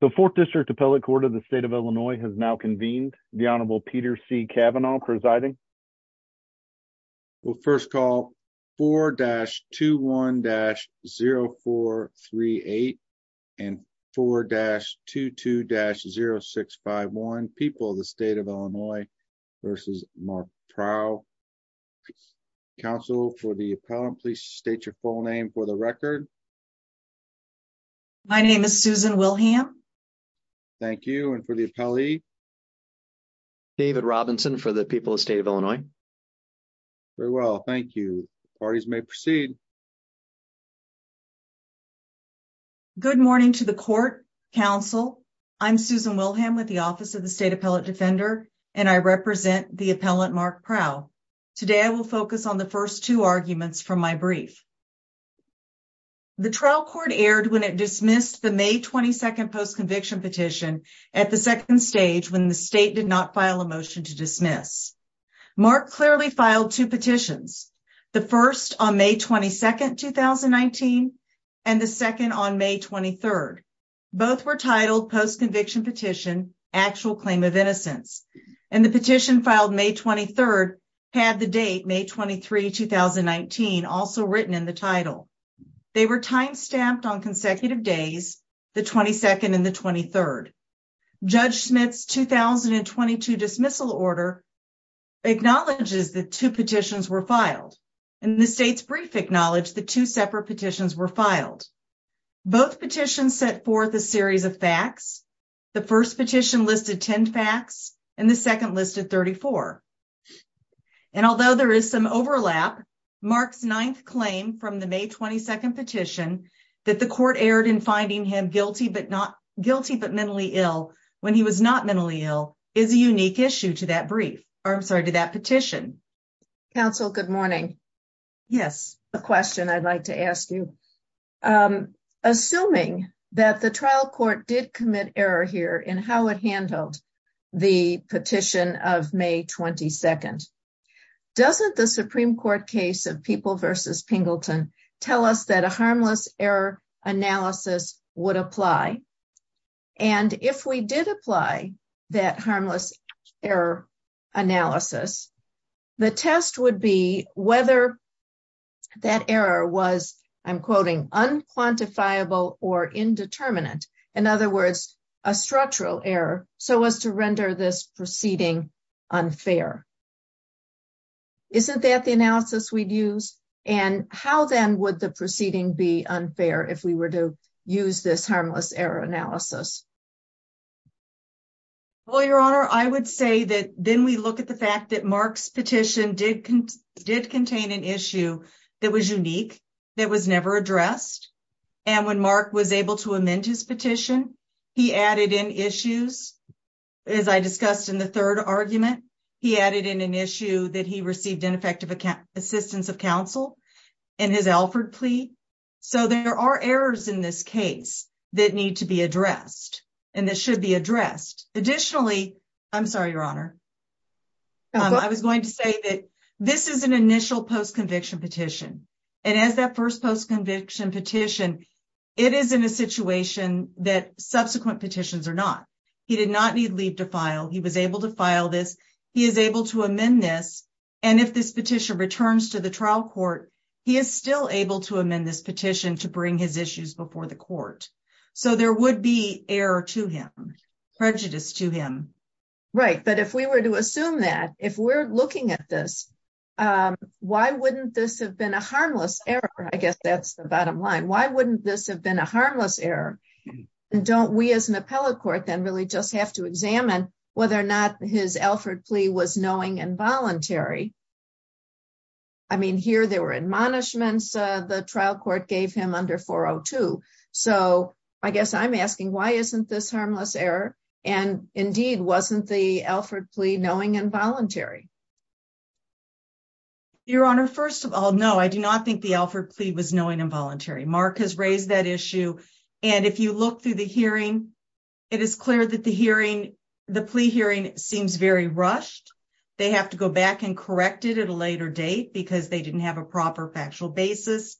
The 4th District Appellate Court of the State of Illinois has now convened. The Honorable Peter C. Kavanaugh presiding. We'll first call 4-21-0438 and 4-22-0651. People of the State of Illinois v. Mark Prough. Counsel for the appellant, please state your full name for the record. My name is Susan Wilhelm. Thank you. And for the appellee? David Robinson for the people of the State of Illinois. Very well. Thank you. Parties may proceed. Good morning to the Court, Counsel. I'm Susan Wilhelm with the Office of the State Appellate Defender and I represent the appellant Mark Prough. Today, I will focus on the first two arguments from my brief. The trial court aired when it dismissed the May 22nd postconviction petition at the second stage when the state did not file a motion to dismiss. Mark clearly filed two petitions, the first on May 22nd, 2019, and the second on May 23rd. Both were titled Postconviction Petition, Actual Claim of Innocence. And the petition filed May 23rd had the date May 23, 2019, also written in the title. They were time stamped on consecutive days, the 22nd and the 23rd. Judge Smith's 2022 dismissal order acknowledges the two petitions were filed. And the state's brief acknowledged the two separate petitions were filed. Both petitions set forth a series of facts. The first petition listed 10 facts and the second listed 34. And although there is some overlap, Mark's ninth claim from the May 22nd petition that the court aired in finding him guilty, but not guilty, but mentally ill when he was not mentally ill is a unique issue to that brief. I'm sorry to that petition. Counsel, good morning. Yes, a question I'd like to ask you. Assuming that the trial court did commit error here in how it handled the petition of May 22nd. Doesn't the Supreme Court case of people versus Pingleton, tell us that a harmless error analysis would apply. And if we did apply that harmless error analysis, the test would be whether that error was I'm quoting unquantifiable or indeterminate. In other words, a structural error, so as to render this proceeding unfair. Isn't that the analysis we'd use and how then would the proceeding be unfair if we were to use this harmless error analysis. Well, your honor, I would say that then we look at the fact that Mark's petition did did contain an issue that was unique. That was never addressed. And when Mark was able to amend his petition, he added in issues. As I discussed in the 3rd argument, he added in an issue that he received ineffective account assistance of counsel and his Alfred plea. So, there are errors in this case that need to be addressed and that should be addressed. Additionally, I'm sorry, your honor. I was going to say that this is an initial post conviction petition and as that 1st post conviction petition. It is in a situation that subsequent petitions are not. He did not need leave to file. He was able to file this. He is able to amend this. And if this petition returns to the trial court, he is still able to amend this petition to bring his issues before the court. So, there would be error to him prejudice to him. Right. But if we were to assume that if we're looking at this, why wouldn't this have been a harmless error? I guess that's the bottom line. Why wouldn't this have been a harmless error? And don't we, as an appellate court, then really just have to examine whether or not his Alfred plea was knowing and voluntary. I mean, here, there were admonishments. The trial court gave him under 402. So, I guess I'm asking why isn't this harmless error and indeed wasn't the Alfred plea knowing and voluntary. Your honor 1st of all, no, I do not think the Alfred plea was knowing involuntary. Mark has raised that issue. And if you look through the hearing. It is clear that the hearing the plea hearing seems very rushed. They have to go back and correct it at a later date because they didn't have a proper factual basis.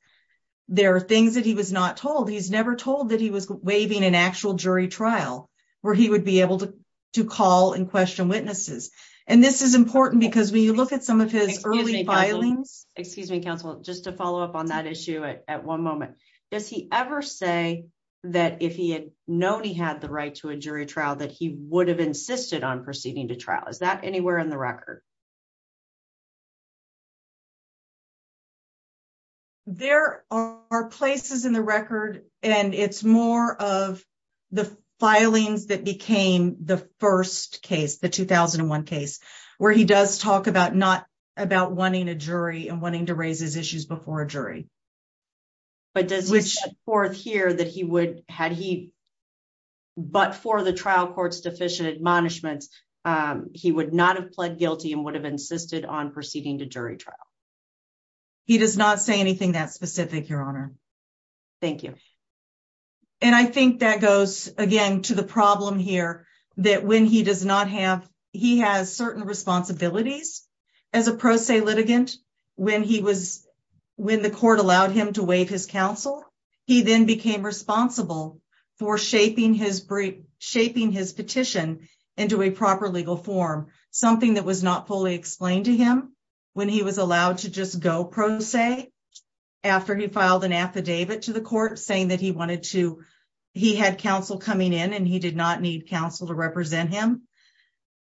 There are things that he was not told he's never told that he was waving an actual jury trial where he would be able to to call and question witnesses. And this is important because when you look at some of his early filings, excuse me, counsel, just to follow up on that issue at 1 moment. Does he ever say that if he had known he had the right to a jury trial that he would have insisted on proceeding to trial? Is that anywhere in the record? There are places in the record, and it's more of the filings that became the 1st case, the 2001 case where he does talk about not about wanting a jury and wanting to raise his issues before a jury. But does which 4th here that he would had he. But for the trial courts, deficient admonishments, he would not have pled guilty and would have insisted on proceeding to jury trial. He does not say anything that specific your honor. Thank you and I think that goes again to the problem here that when he does not have he has certain responsibilities. As a pro se litigant, when he was when the court allowed him to waive his counsel, he then became responsible for shaping his shaping his petition into a proper legal form. Something that was not fully explained to him when he was allowed to just go. After he filed an affidavit to the court, saying that he wanted to, he had counsel coming in and he did not need counsel to represent him.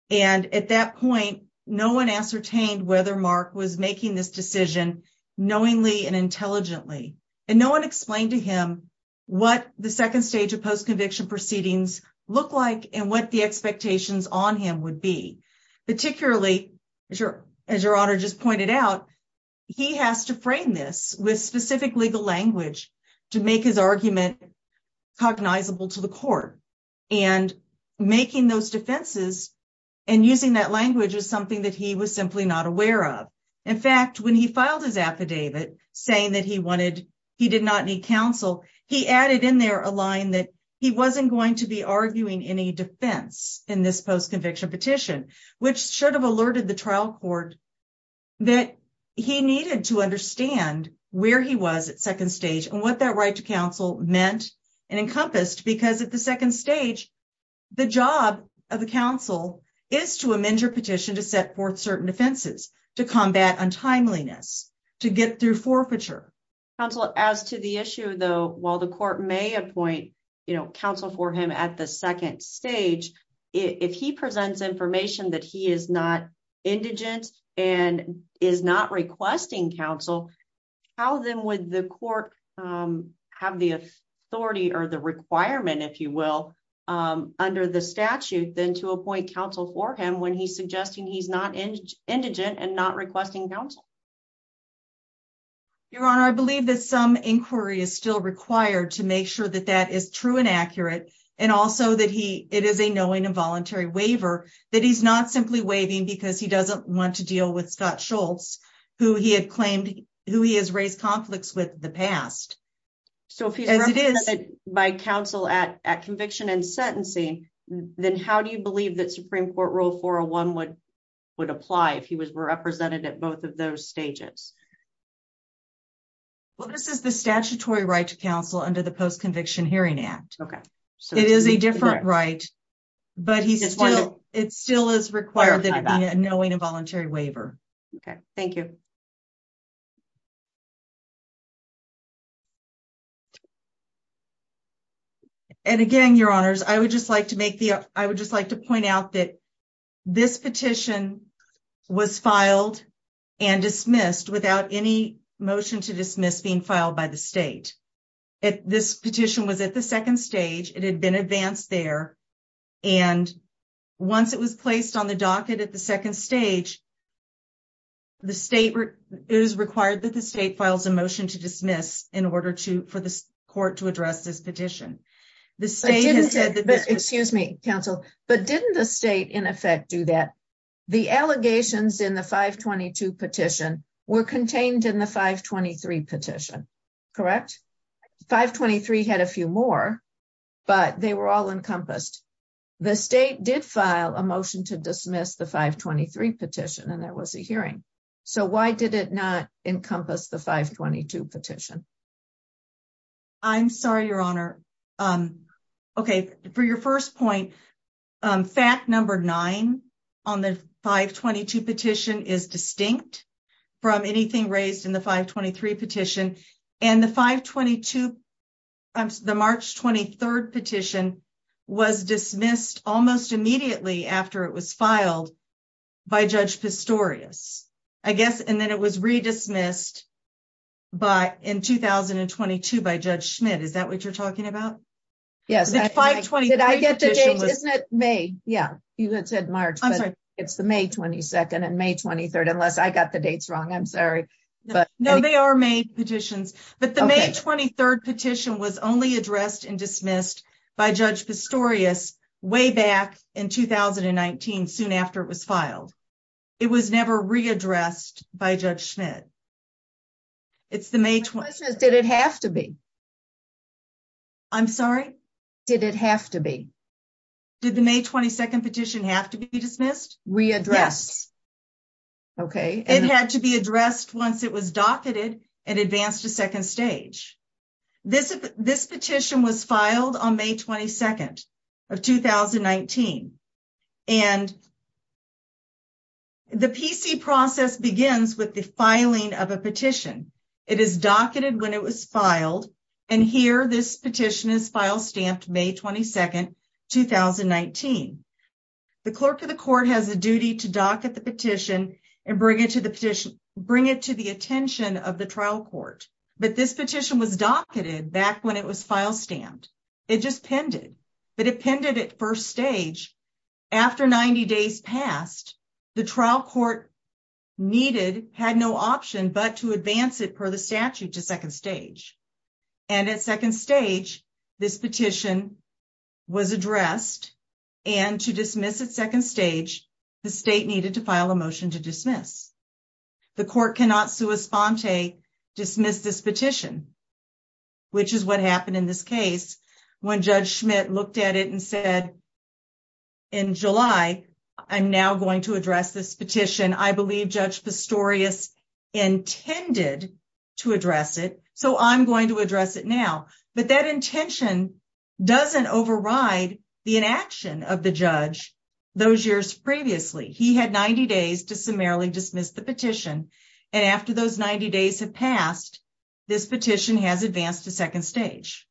And at that point, no 1 ascertained whether Mark was making this decision knowingly and intelligently and no 1 explained to him. What the 2nd stage of post conviction proceedings look like, and what the expectations on him would be. Particularly as your honor just pointed out, he has to frame this with specific legal language to make his argument cognizable to the court. And making those defenses and using that language is something that he was simply not aware of. In fact, when he filed his affidavit saying that he wanted, he did not need counsel, he added in there a line that he wasn't going to be arguing any defense in this post conviction petition, which should have alerted the trial court. That he needed to understand where he was at 2nd stage and what that right to counsel meant and encompassed because at the 2nd stage. The job of the council is to amend your petition to set forth certain defenses to combat untimeliness to get through forfeiture. As to the issue, though, while the court may appoint counsel for him at the 2nd stage, if he presents information that he is not indigent and is not requesting counsel. How then would the court have the authority or the requirement if you will, under the statute, then to appoint counsel for him when he's suggesting he's not indigent and not requesting counsel. Your honor, I believe that some inquiry is still required to make sure that that is true and accurate. And also that he, it is a knowing involuntary waiver that he's not simply waving because he doesn't want to deal with Scott Schultz, who he had claimed who he has raised conflicts with the past. So, if it is by counsel at conviction and sentencing, then how do you believe that Supreme Court rule for a 1 would would apply if he was represented at both of those stages. Well, this is the statutory right to counsel under the post conviction hearing act. Okay, so it is a different right. But it still is required that knowing involuntary waiver. Okay, thank you. And again, your honors, I would just like to make the, I would just like to point out that. This petition was filed and dismissed without any motion to dismiss being filed by the state. If this petition was at the 2nd stage, it had been advanced there. And once it was placed on the docket at the 2nd stage. The state is required that the state files a motion to dismiss in order to for the court to address this petition. The state has said, excuse me, counsel, but didn't the state in effect do that? The allegations in the 522 petition were contained in the 523 petition. Correct 523 had a few more. But they were all encompassed. The state did file a motion to dismiss the 523 petition and there was a hearing. So, why did it not encompass the 522 petition? I'm sorry, your honor. Okay, for your 1st point. Fact number 9 on the 522 petition is distinct. From anything raised in the 523 petition and the 522. The March 23rd petition was dismissed almost immediately after it was filed. By judge Pistorius, I guess, and then it was redismissed. But in 2022 by judge Schmidt, is that what you're talking about? Yes, 520. Did I get the date? Isn't it? May? Yeah, you had said March. It's the May 22nd and May 23rd unless I got the dates wrong. I'm sorry. But no, they are made petitions, but the May 23rd petition was only addressed and dismissed by judge Pistorius way back in 2019 soon after it was filed. It was never readdressed by judgment. It's the May. Did it have to be. I'm sorry, did it have to be. Did the May 22nd petition have to be dismissed? We address. Okay, it had to be addressed once it was docketed and advanced to 2nd stage. This petition was filed on May 22nd. Of 2019 and. The PC process begins with the filing of a petition. It is docketed when it was filed and here this petition is file stamped May 22nd. 2019, the clerk of the court has a duty to dock at the petition and bring it to the petition, bring it to the attention of the trial court. But this petition was docketed back when it was file stamped. It just pended, but it pended at 1st stage. After 90 days passed, the trial court. Needed had no option, but to advance it per the statute to 2nd stage. And at 2nd stage, this petition. Was addressed and to dismiss at 2nd stage. The state needed to file a motion to dismiss. The court cannot sue a spawn to dismiss this petition. Which is what happened in this case when judge Schmidt looked at it and said. In July, I'm now going to address this petition. I believe judge. Intended to address it, so I'm going to address it now, but that intention. Doesn't override the inaction of the judge. Judge Schmidt did not advance the petition to 2nd stage. Those years previously, he had 90 days to summarily dismiss the petition. And after those 90 days have passed, this petition has advanced to 2nd stage.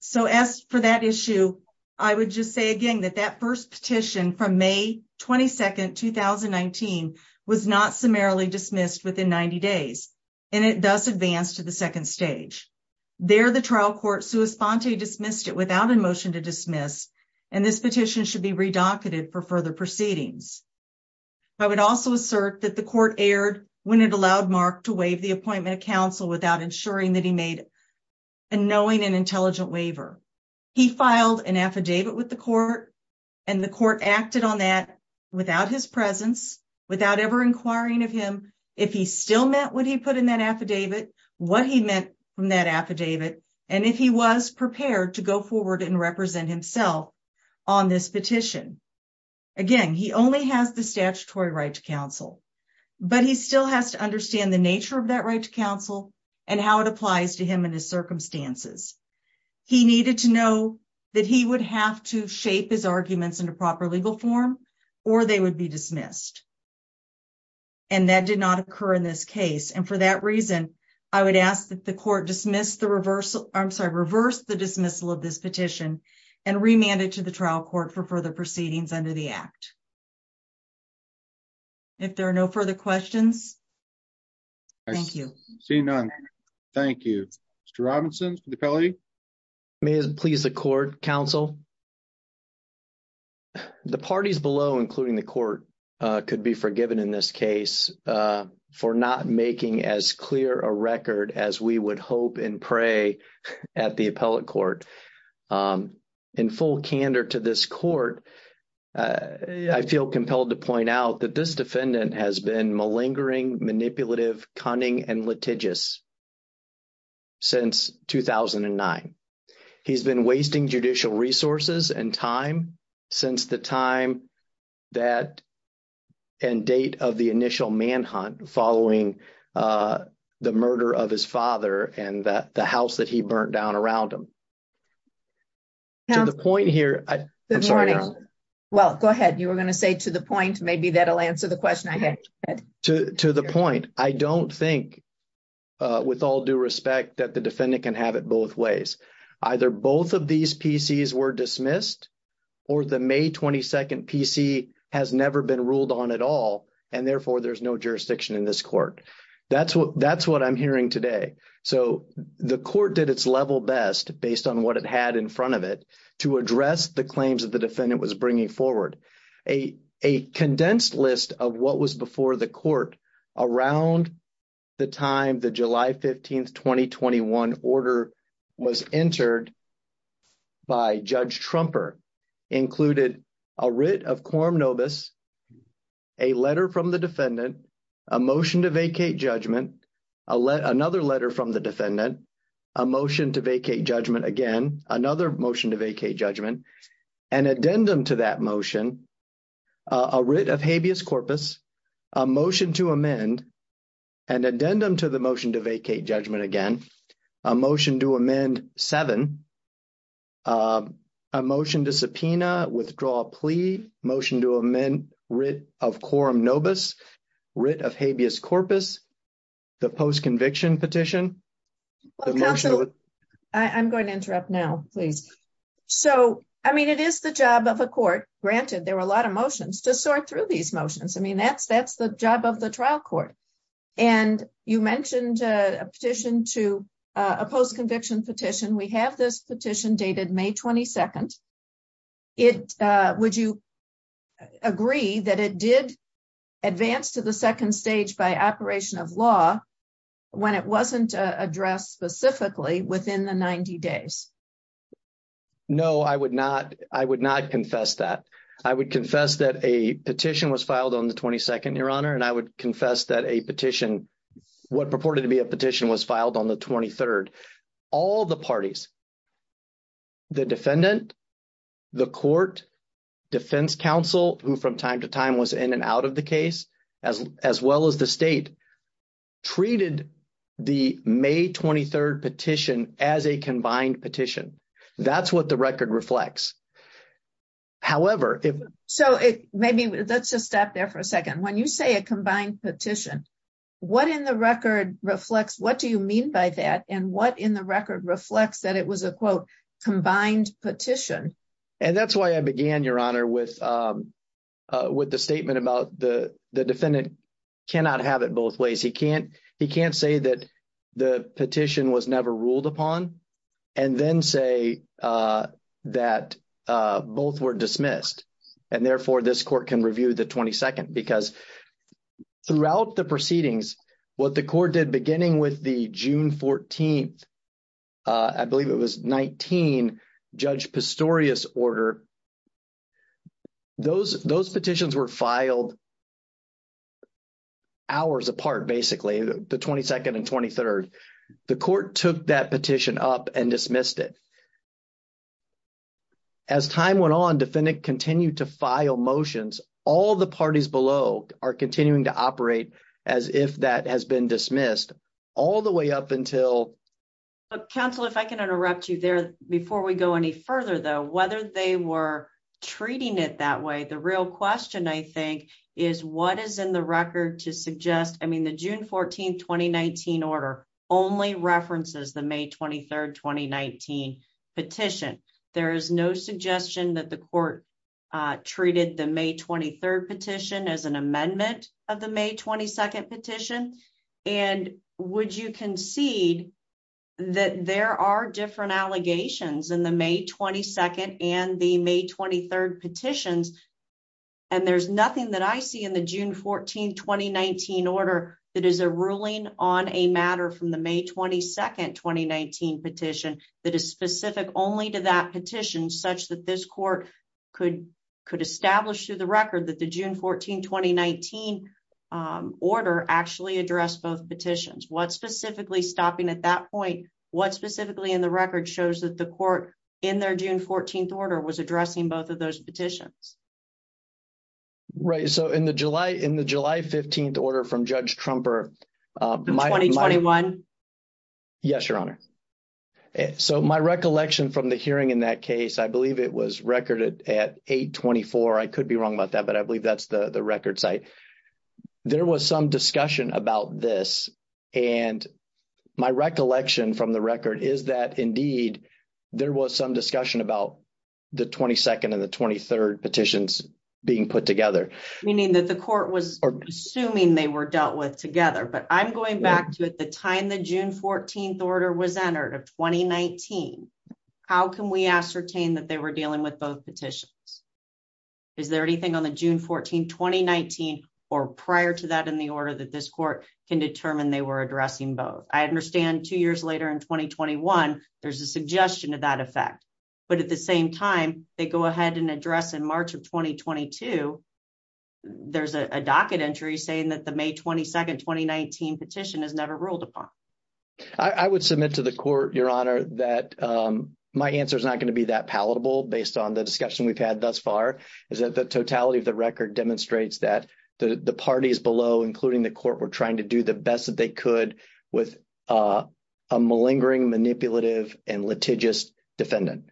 So, as for that issue, I would just say, again, that that 1st petition from May 22nd, 2019 was not summarily dismissed within 90 days. And it does advance to the 2nd stage. They're the trial court, so a spawn to dismissed it without a motion to dismiss. And this petition should be redacted for further proceedings. I would also assert that the court aired when it allowed Mark to waive the appointment of counsel without ensuring that he made. And knowing an intelligent waiver, he filed an affidavit with the court. And the court acted on that without his presence, without ever inquiring of him, if he still met what he put in that affidavit, what he meant from that affidavit. And if he was prepared to go forward and represent himself. On this petition, again, he only has the statutory right to counsel, but he still has to understand the nature of that right to counsel and how it applies to him in his circumstances. He needed to know that he would have to shape his arguments in a proper legal form, or they would be dismissed. And that did not occur in this case. And for that reason, I would ask that the court dismiss the reversal. I'm sorry, reverse the dismissal of this petition and remanded to the trial court for further proceedings under the act. If there are no further questions. Thank you. Thank you. Robinson's the. May please the court counsel. The parties below, including the court could be forgiven in this case for not making as clear a record as we would hope and pray at the appellate court in full candor to this court. I feel compelled to point out that this defendant has been malingering, manipulative, cunning and litigious. Since 2009, he's been wasting judicial resources and time since the time that and date of the initial manhunt following the murder of his father and that the house that he burnt down around him. The point here, I'm sorry. Well, go ahead. You were going to say to the point. Maybe that'll answer the question. I had to the point. I don't think. With all due respect that the defendant can have it both ways, either both of these pieces were dismissed. Or the May 22nd PC has never been ruled on at all. And therefore there's no jurisdiction in this court. That's what that's what I'm hearing today. So, the court did its level best based on what it had in front of it to address the claims of the defendant was bringing forward a, a condensed list of what was before the court around. Around the time the July 15th, 2021 order was entered. By Judge Trumper included a writ of quorum novus. A letter from the defendant, a motion to vacate judgment. A let another letter from the defendant. A motion to vacate judgment again, another motion to vacate judgment. And addendum to that motion. A writ of habeas corpus a motion to amend. And addendum to the motion to vacate judgment again, a motion to amend 7. A motion to subpoena withdraw plea motion to amend writ of quorum novus writ of habeas corpus. The post conviction petition. I'm going to interrupt now, please. So, I mean, it is the job of a court granted. There were a lot of motions to sort through these motions. I mean, that's that's the job of the trial court. And you mentioned a petition to a post conviction petition. We have this petition dated May 22nd. It would you agree that it did advance to the 2nd stage by operation of law. When it wasn't addressed specifically within the 90 days. No, I would not I would not confess that I would confess that a petition was filed on the 22nd your honor and I would confess that a petition. What purported to be a petition was filed on the 23rd. All the parties. The defendant, the court. Defense counsel who from time to time was in and out of the case as well as the state. Treated the May 23rd petition as a combined petition. That's what the record reflects. However, if so, maybe that's a step there for a 2nd, when you say a combined petition. What in the record reflects what do you mean by that? And what in the record reflects that? It was a quote combined petition. And that's why I began your honor with with the statement about the defendant. Cannot have it both ways. He can't he can't say that the petition was never ruled upon and then say that both were dismissed. And therefore, this court can review the 22nd, because throughout the proceedings, what the court did, beginning with the June 14th. I believe it was 19 judge order. Those those petitions were filed. Hours apart, basically the 22nd and 23rd, the court took that petition up and dismissed it. As time went on, defendant continued to file motions. All the parties below are continuing to operate as if that has been dismissed all the way up until. Counsel, if I can interrupt you there before we go any further, though, whether they were treating it that way. The real question, I think, is what is in the record to suggest? I mean, the June 14th, 2019 order only references the May 23rd, 2019 petition. There is no suggestion that the court treated the May 23rd petition as an amendment of the May 22nd petition. And would you concede that there are different allegations in the May 22nd and the May 23rd petitions? And there's nothing that I see in the June 14th, 2019 order. That is a ruling on a matter from the May 22nd, 2019 petition. That is specific only to that petition such that this court could could establish to the record that the June 14, 2019 order actually addressed both petitions. What specifically stopping at that point? What specifically in the record shows that the court in their June 14th order was addressing both of those petitions? Right. So in the July in the July 15th order from Judge Trump or my 21. Yes, your honor. So my recollection from the hearing in that case, I believe it was record at 824. I could be wrong about that, but I believe that's the record site. There was some discussion about this. And my recollection from the record is that, indeed, there was some discussion about the 22nd and the 23rd petitions being put together. Meaning that the court was assuming they were dealt with together. But I'm going back to at the time the June 14th order was entered of 2019. How can we ascertain that they were dealing with both petitions? Is there anything on the June 14, 2019 or prior to that in the order that this court can determine they were addressing both? I understand 2 years later in 2021, there's a suggestion of that effect, but at the same time, they go ahead and address in March of 2022. There's a docket entry saying that the May 22nd, 2019 petition is never ruled upon. I would submit to the court your honor that my answer is not going to be that palatable based on the discussion we've had thus far. Is that the totality of the record demonstrates that the parties below, including the court, were trying to do the best that they could with a malingering, manipulative, and litigious defendant.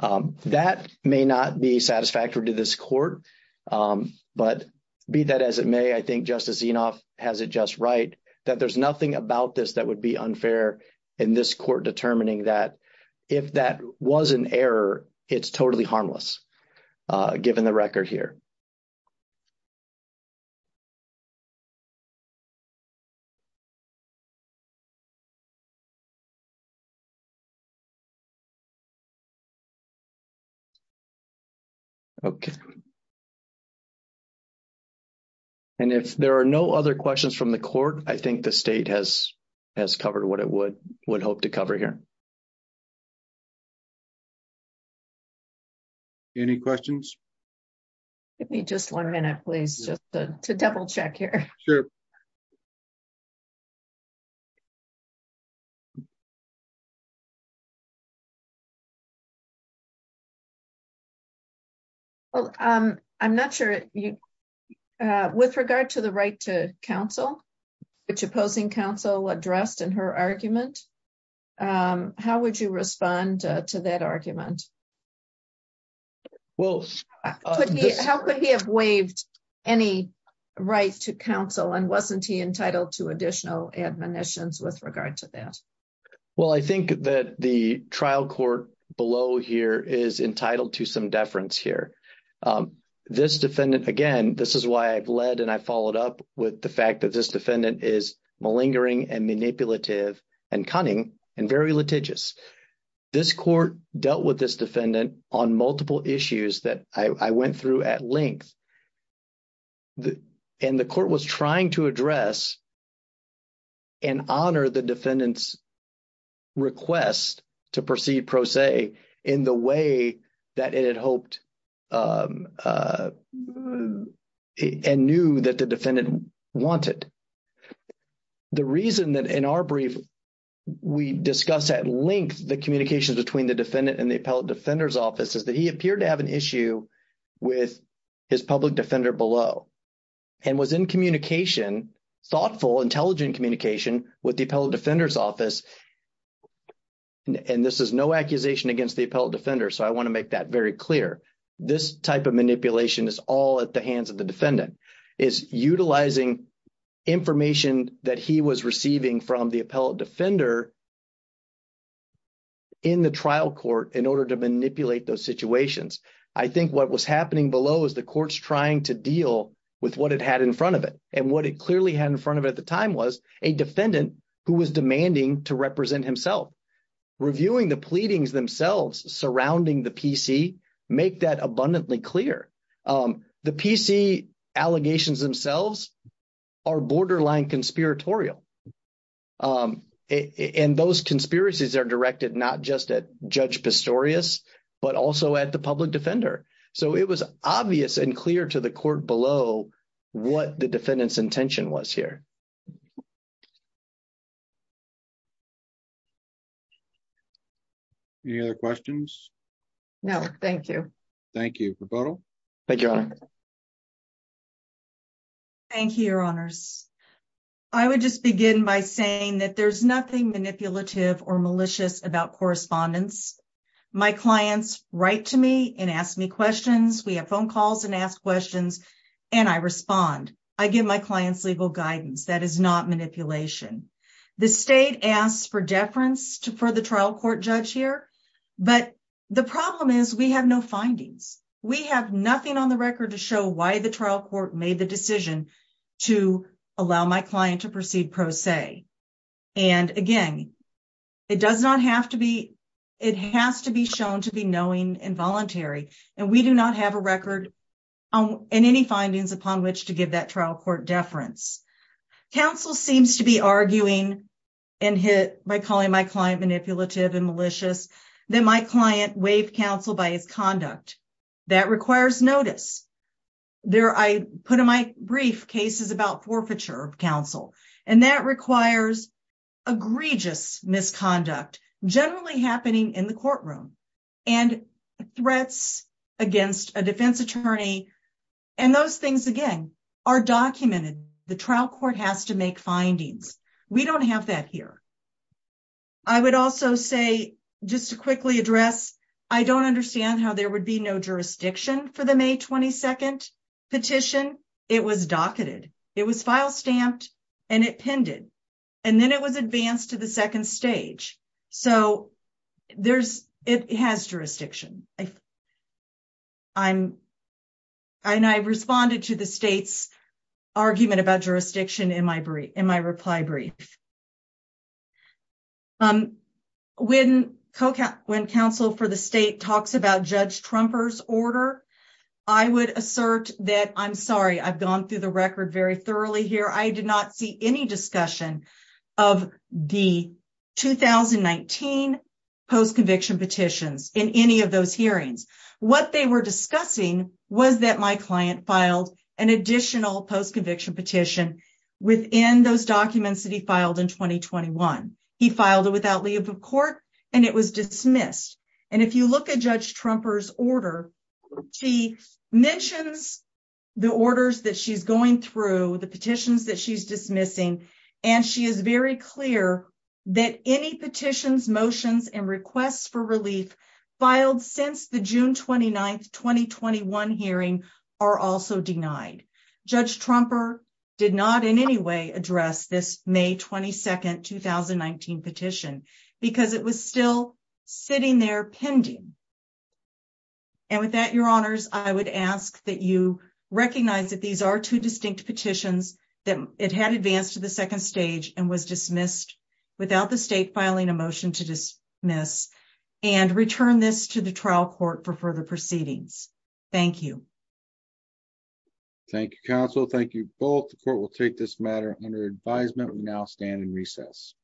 That may not be satisfactory to this court, but be that as it may, I think Justice Enoff has it just right that there's nothing about this that would be unfair in this court determining that if that was an error, it's totally harmless. Given the record here. Okay. And if there are no other questions from the court, I think the state has covered what it would hope to cover here. Any questions. Give me just one minute please just to double check here. Sure. Okay. I'm not sure you. With regard to the right to counsel, which opposing counsel addressed in her argument. How would you respond to that argument. Well, how could he have waived any right to counsel and wasn't he entitled to additional admonitions with regard to that. Well, I think that the trial court below here is entitled to some deference here. This defendant, again, this is why I've led and I followed up with the fact that this defendant is malingering and manipulative and cunning and very litigious. This court dealt with this defendant on multiple issues that I went through at length. And the court was trying to address and honor the defendant's request to proceed pro se in the way that it had hoped and knew that the defendant wanted. The reason that in our brief we discussed at length the communications between the defendant and the appellate defender's office is that he appeared to have an issue with his public defender below. And was in communication, thoughtful, intelligent communication with the appellate defender's office. And this is no accusation against the appellate defender. So I want to make that very clear. This type of manipulation is all at the hands of the defendant. It's utilizing information that he was receiving from the appellate defender in the trial court in order to manipulate those situations. I think what was happening below is the court's trying to deal with what it had in front of it. And what it clearly had in front of it at the time was a defendant who was demanding to represent himself. Reviewing the pleadings themselves surrounding the PC make that abundantly clear. The PC allegations themselves are borderline conspiratorial. And those conspiracies are directed not just at Judge Pistorius but also at the public defender. So it was obvious and clear to the court below what the defendant's intention was here. Any other questions? No, thank you. Thank you. Thank you, Your Honor. Thank you, Your Honors. I would just begin by saying that there's nothing manipulative or malicious about correspondence. My clients write to me and ask me questions. We have phone calls and ask questions, and I respond. I give my clients legal guidance. That is not manipulation. The state asks for deference for the trial court judge here. But the problem is we have no findings. We have nothing on the record to show why the trial court made the decision to allow my client to proceed pro se. And, again, it does not have to be – it has to be shown to be knowing and voluntary. And we do not have a record and any findings upon which to give that trial court deference. Counsel seems to be arguing and hit by calling my client manipulative and malicious that my client waived counsel by his conduct. That requires notice. I put in my brief cases about forfeiture of counsel. And that requires egregious misconduct, generally happening in the courtroom, and threats against a defense attorney. And those things, again, are documented. The trial court has to make findings. We don't have that here. I would also say, just to quickly address, I don't understand how there would be no jurisdiction for the May 22 petition. It was docketed. It was file stamped, and it pinned it. And then it was advanced to the second stage. So there's – it has jurisdiction. I'm – and I responded to the state's argument about jurisdiction in my reply brief. When counsel for the state talks about Judge Trumper's order, I would assert that – I'm sorry. I've gone through the record very thoroughly here. I did not see any discussion of the 2019 post-conviction petitions in any of those hearings. What they were discussing was that my client filed an additional post-conviction petition within those documents that he filed in 2021. He filed it without leave of court, and it was dismissed. And if you look at Judge Trumper's order, she mentions the orders that she's going through, the petitions that she's dismissing, and she is very clear that any petitions, motions, and requests for relief filed since the June 29, 2021 hearing are also denied. Judge Trumper did not in any way address this May 22, 2019 petition because it was still sitting there pending. And with that, Your Honors, I would ask that you recognize that these are two distinct petitions, that it had advanced to the second stage and was dismissed without the state filing a motion to dismiss, and return this to the trial court for further proceedings. Thank you. Thank you, counsel. Thank you both. The court will take this matter under advisement. We now stand in recess.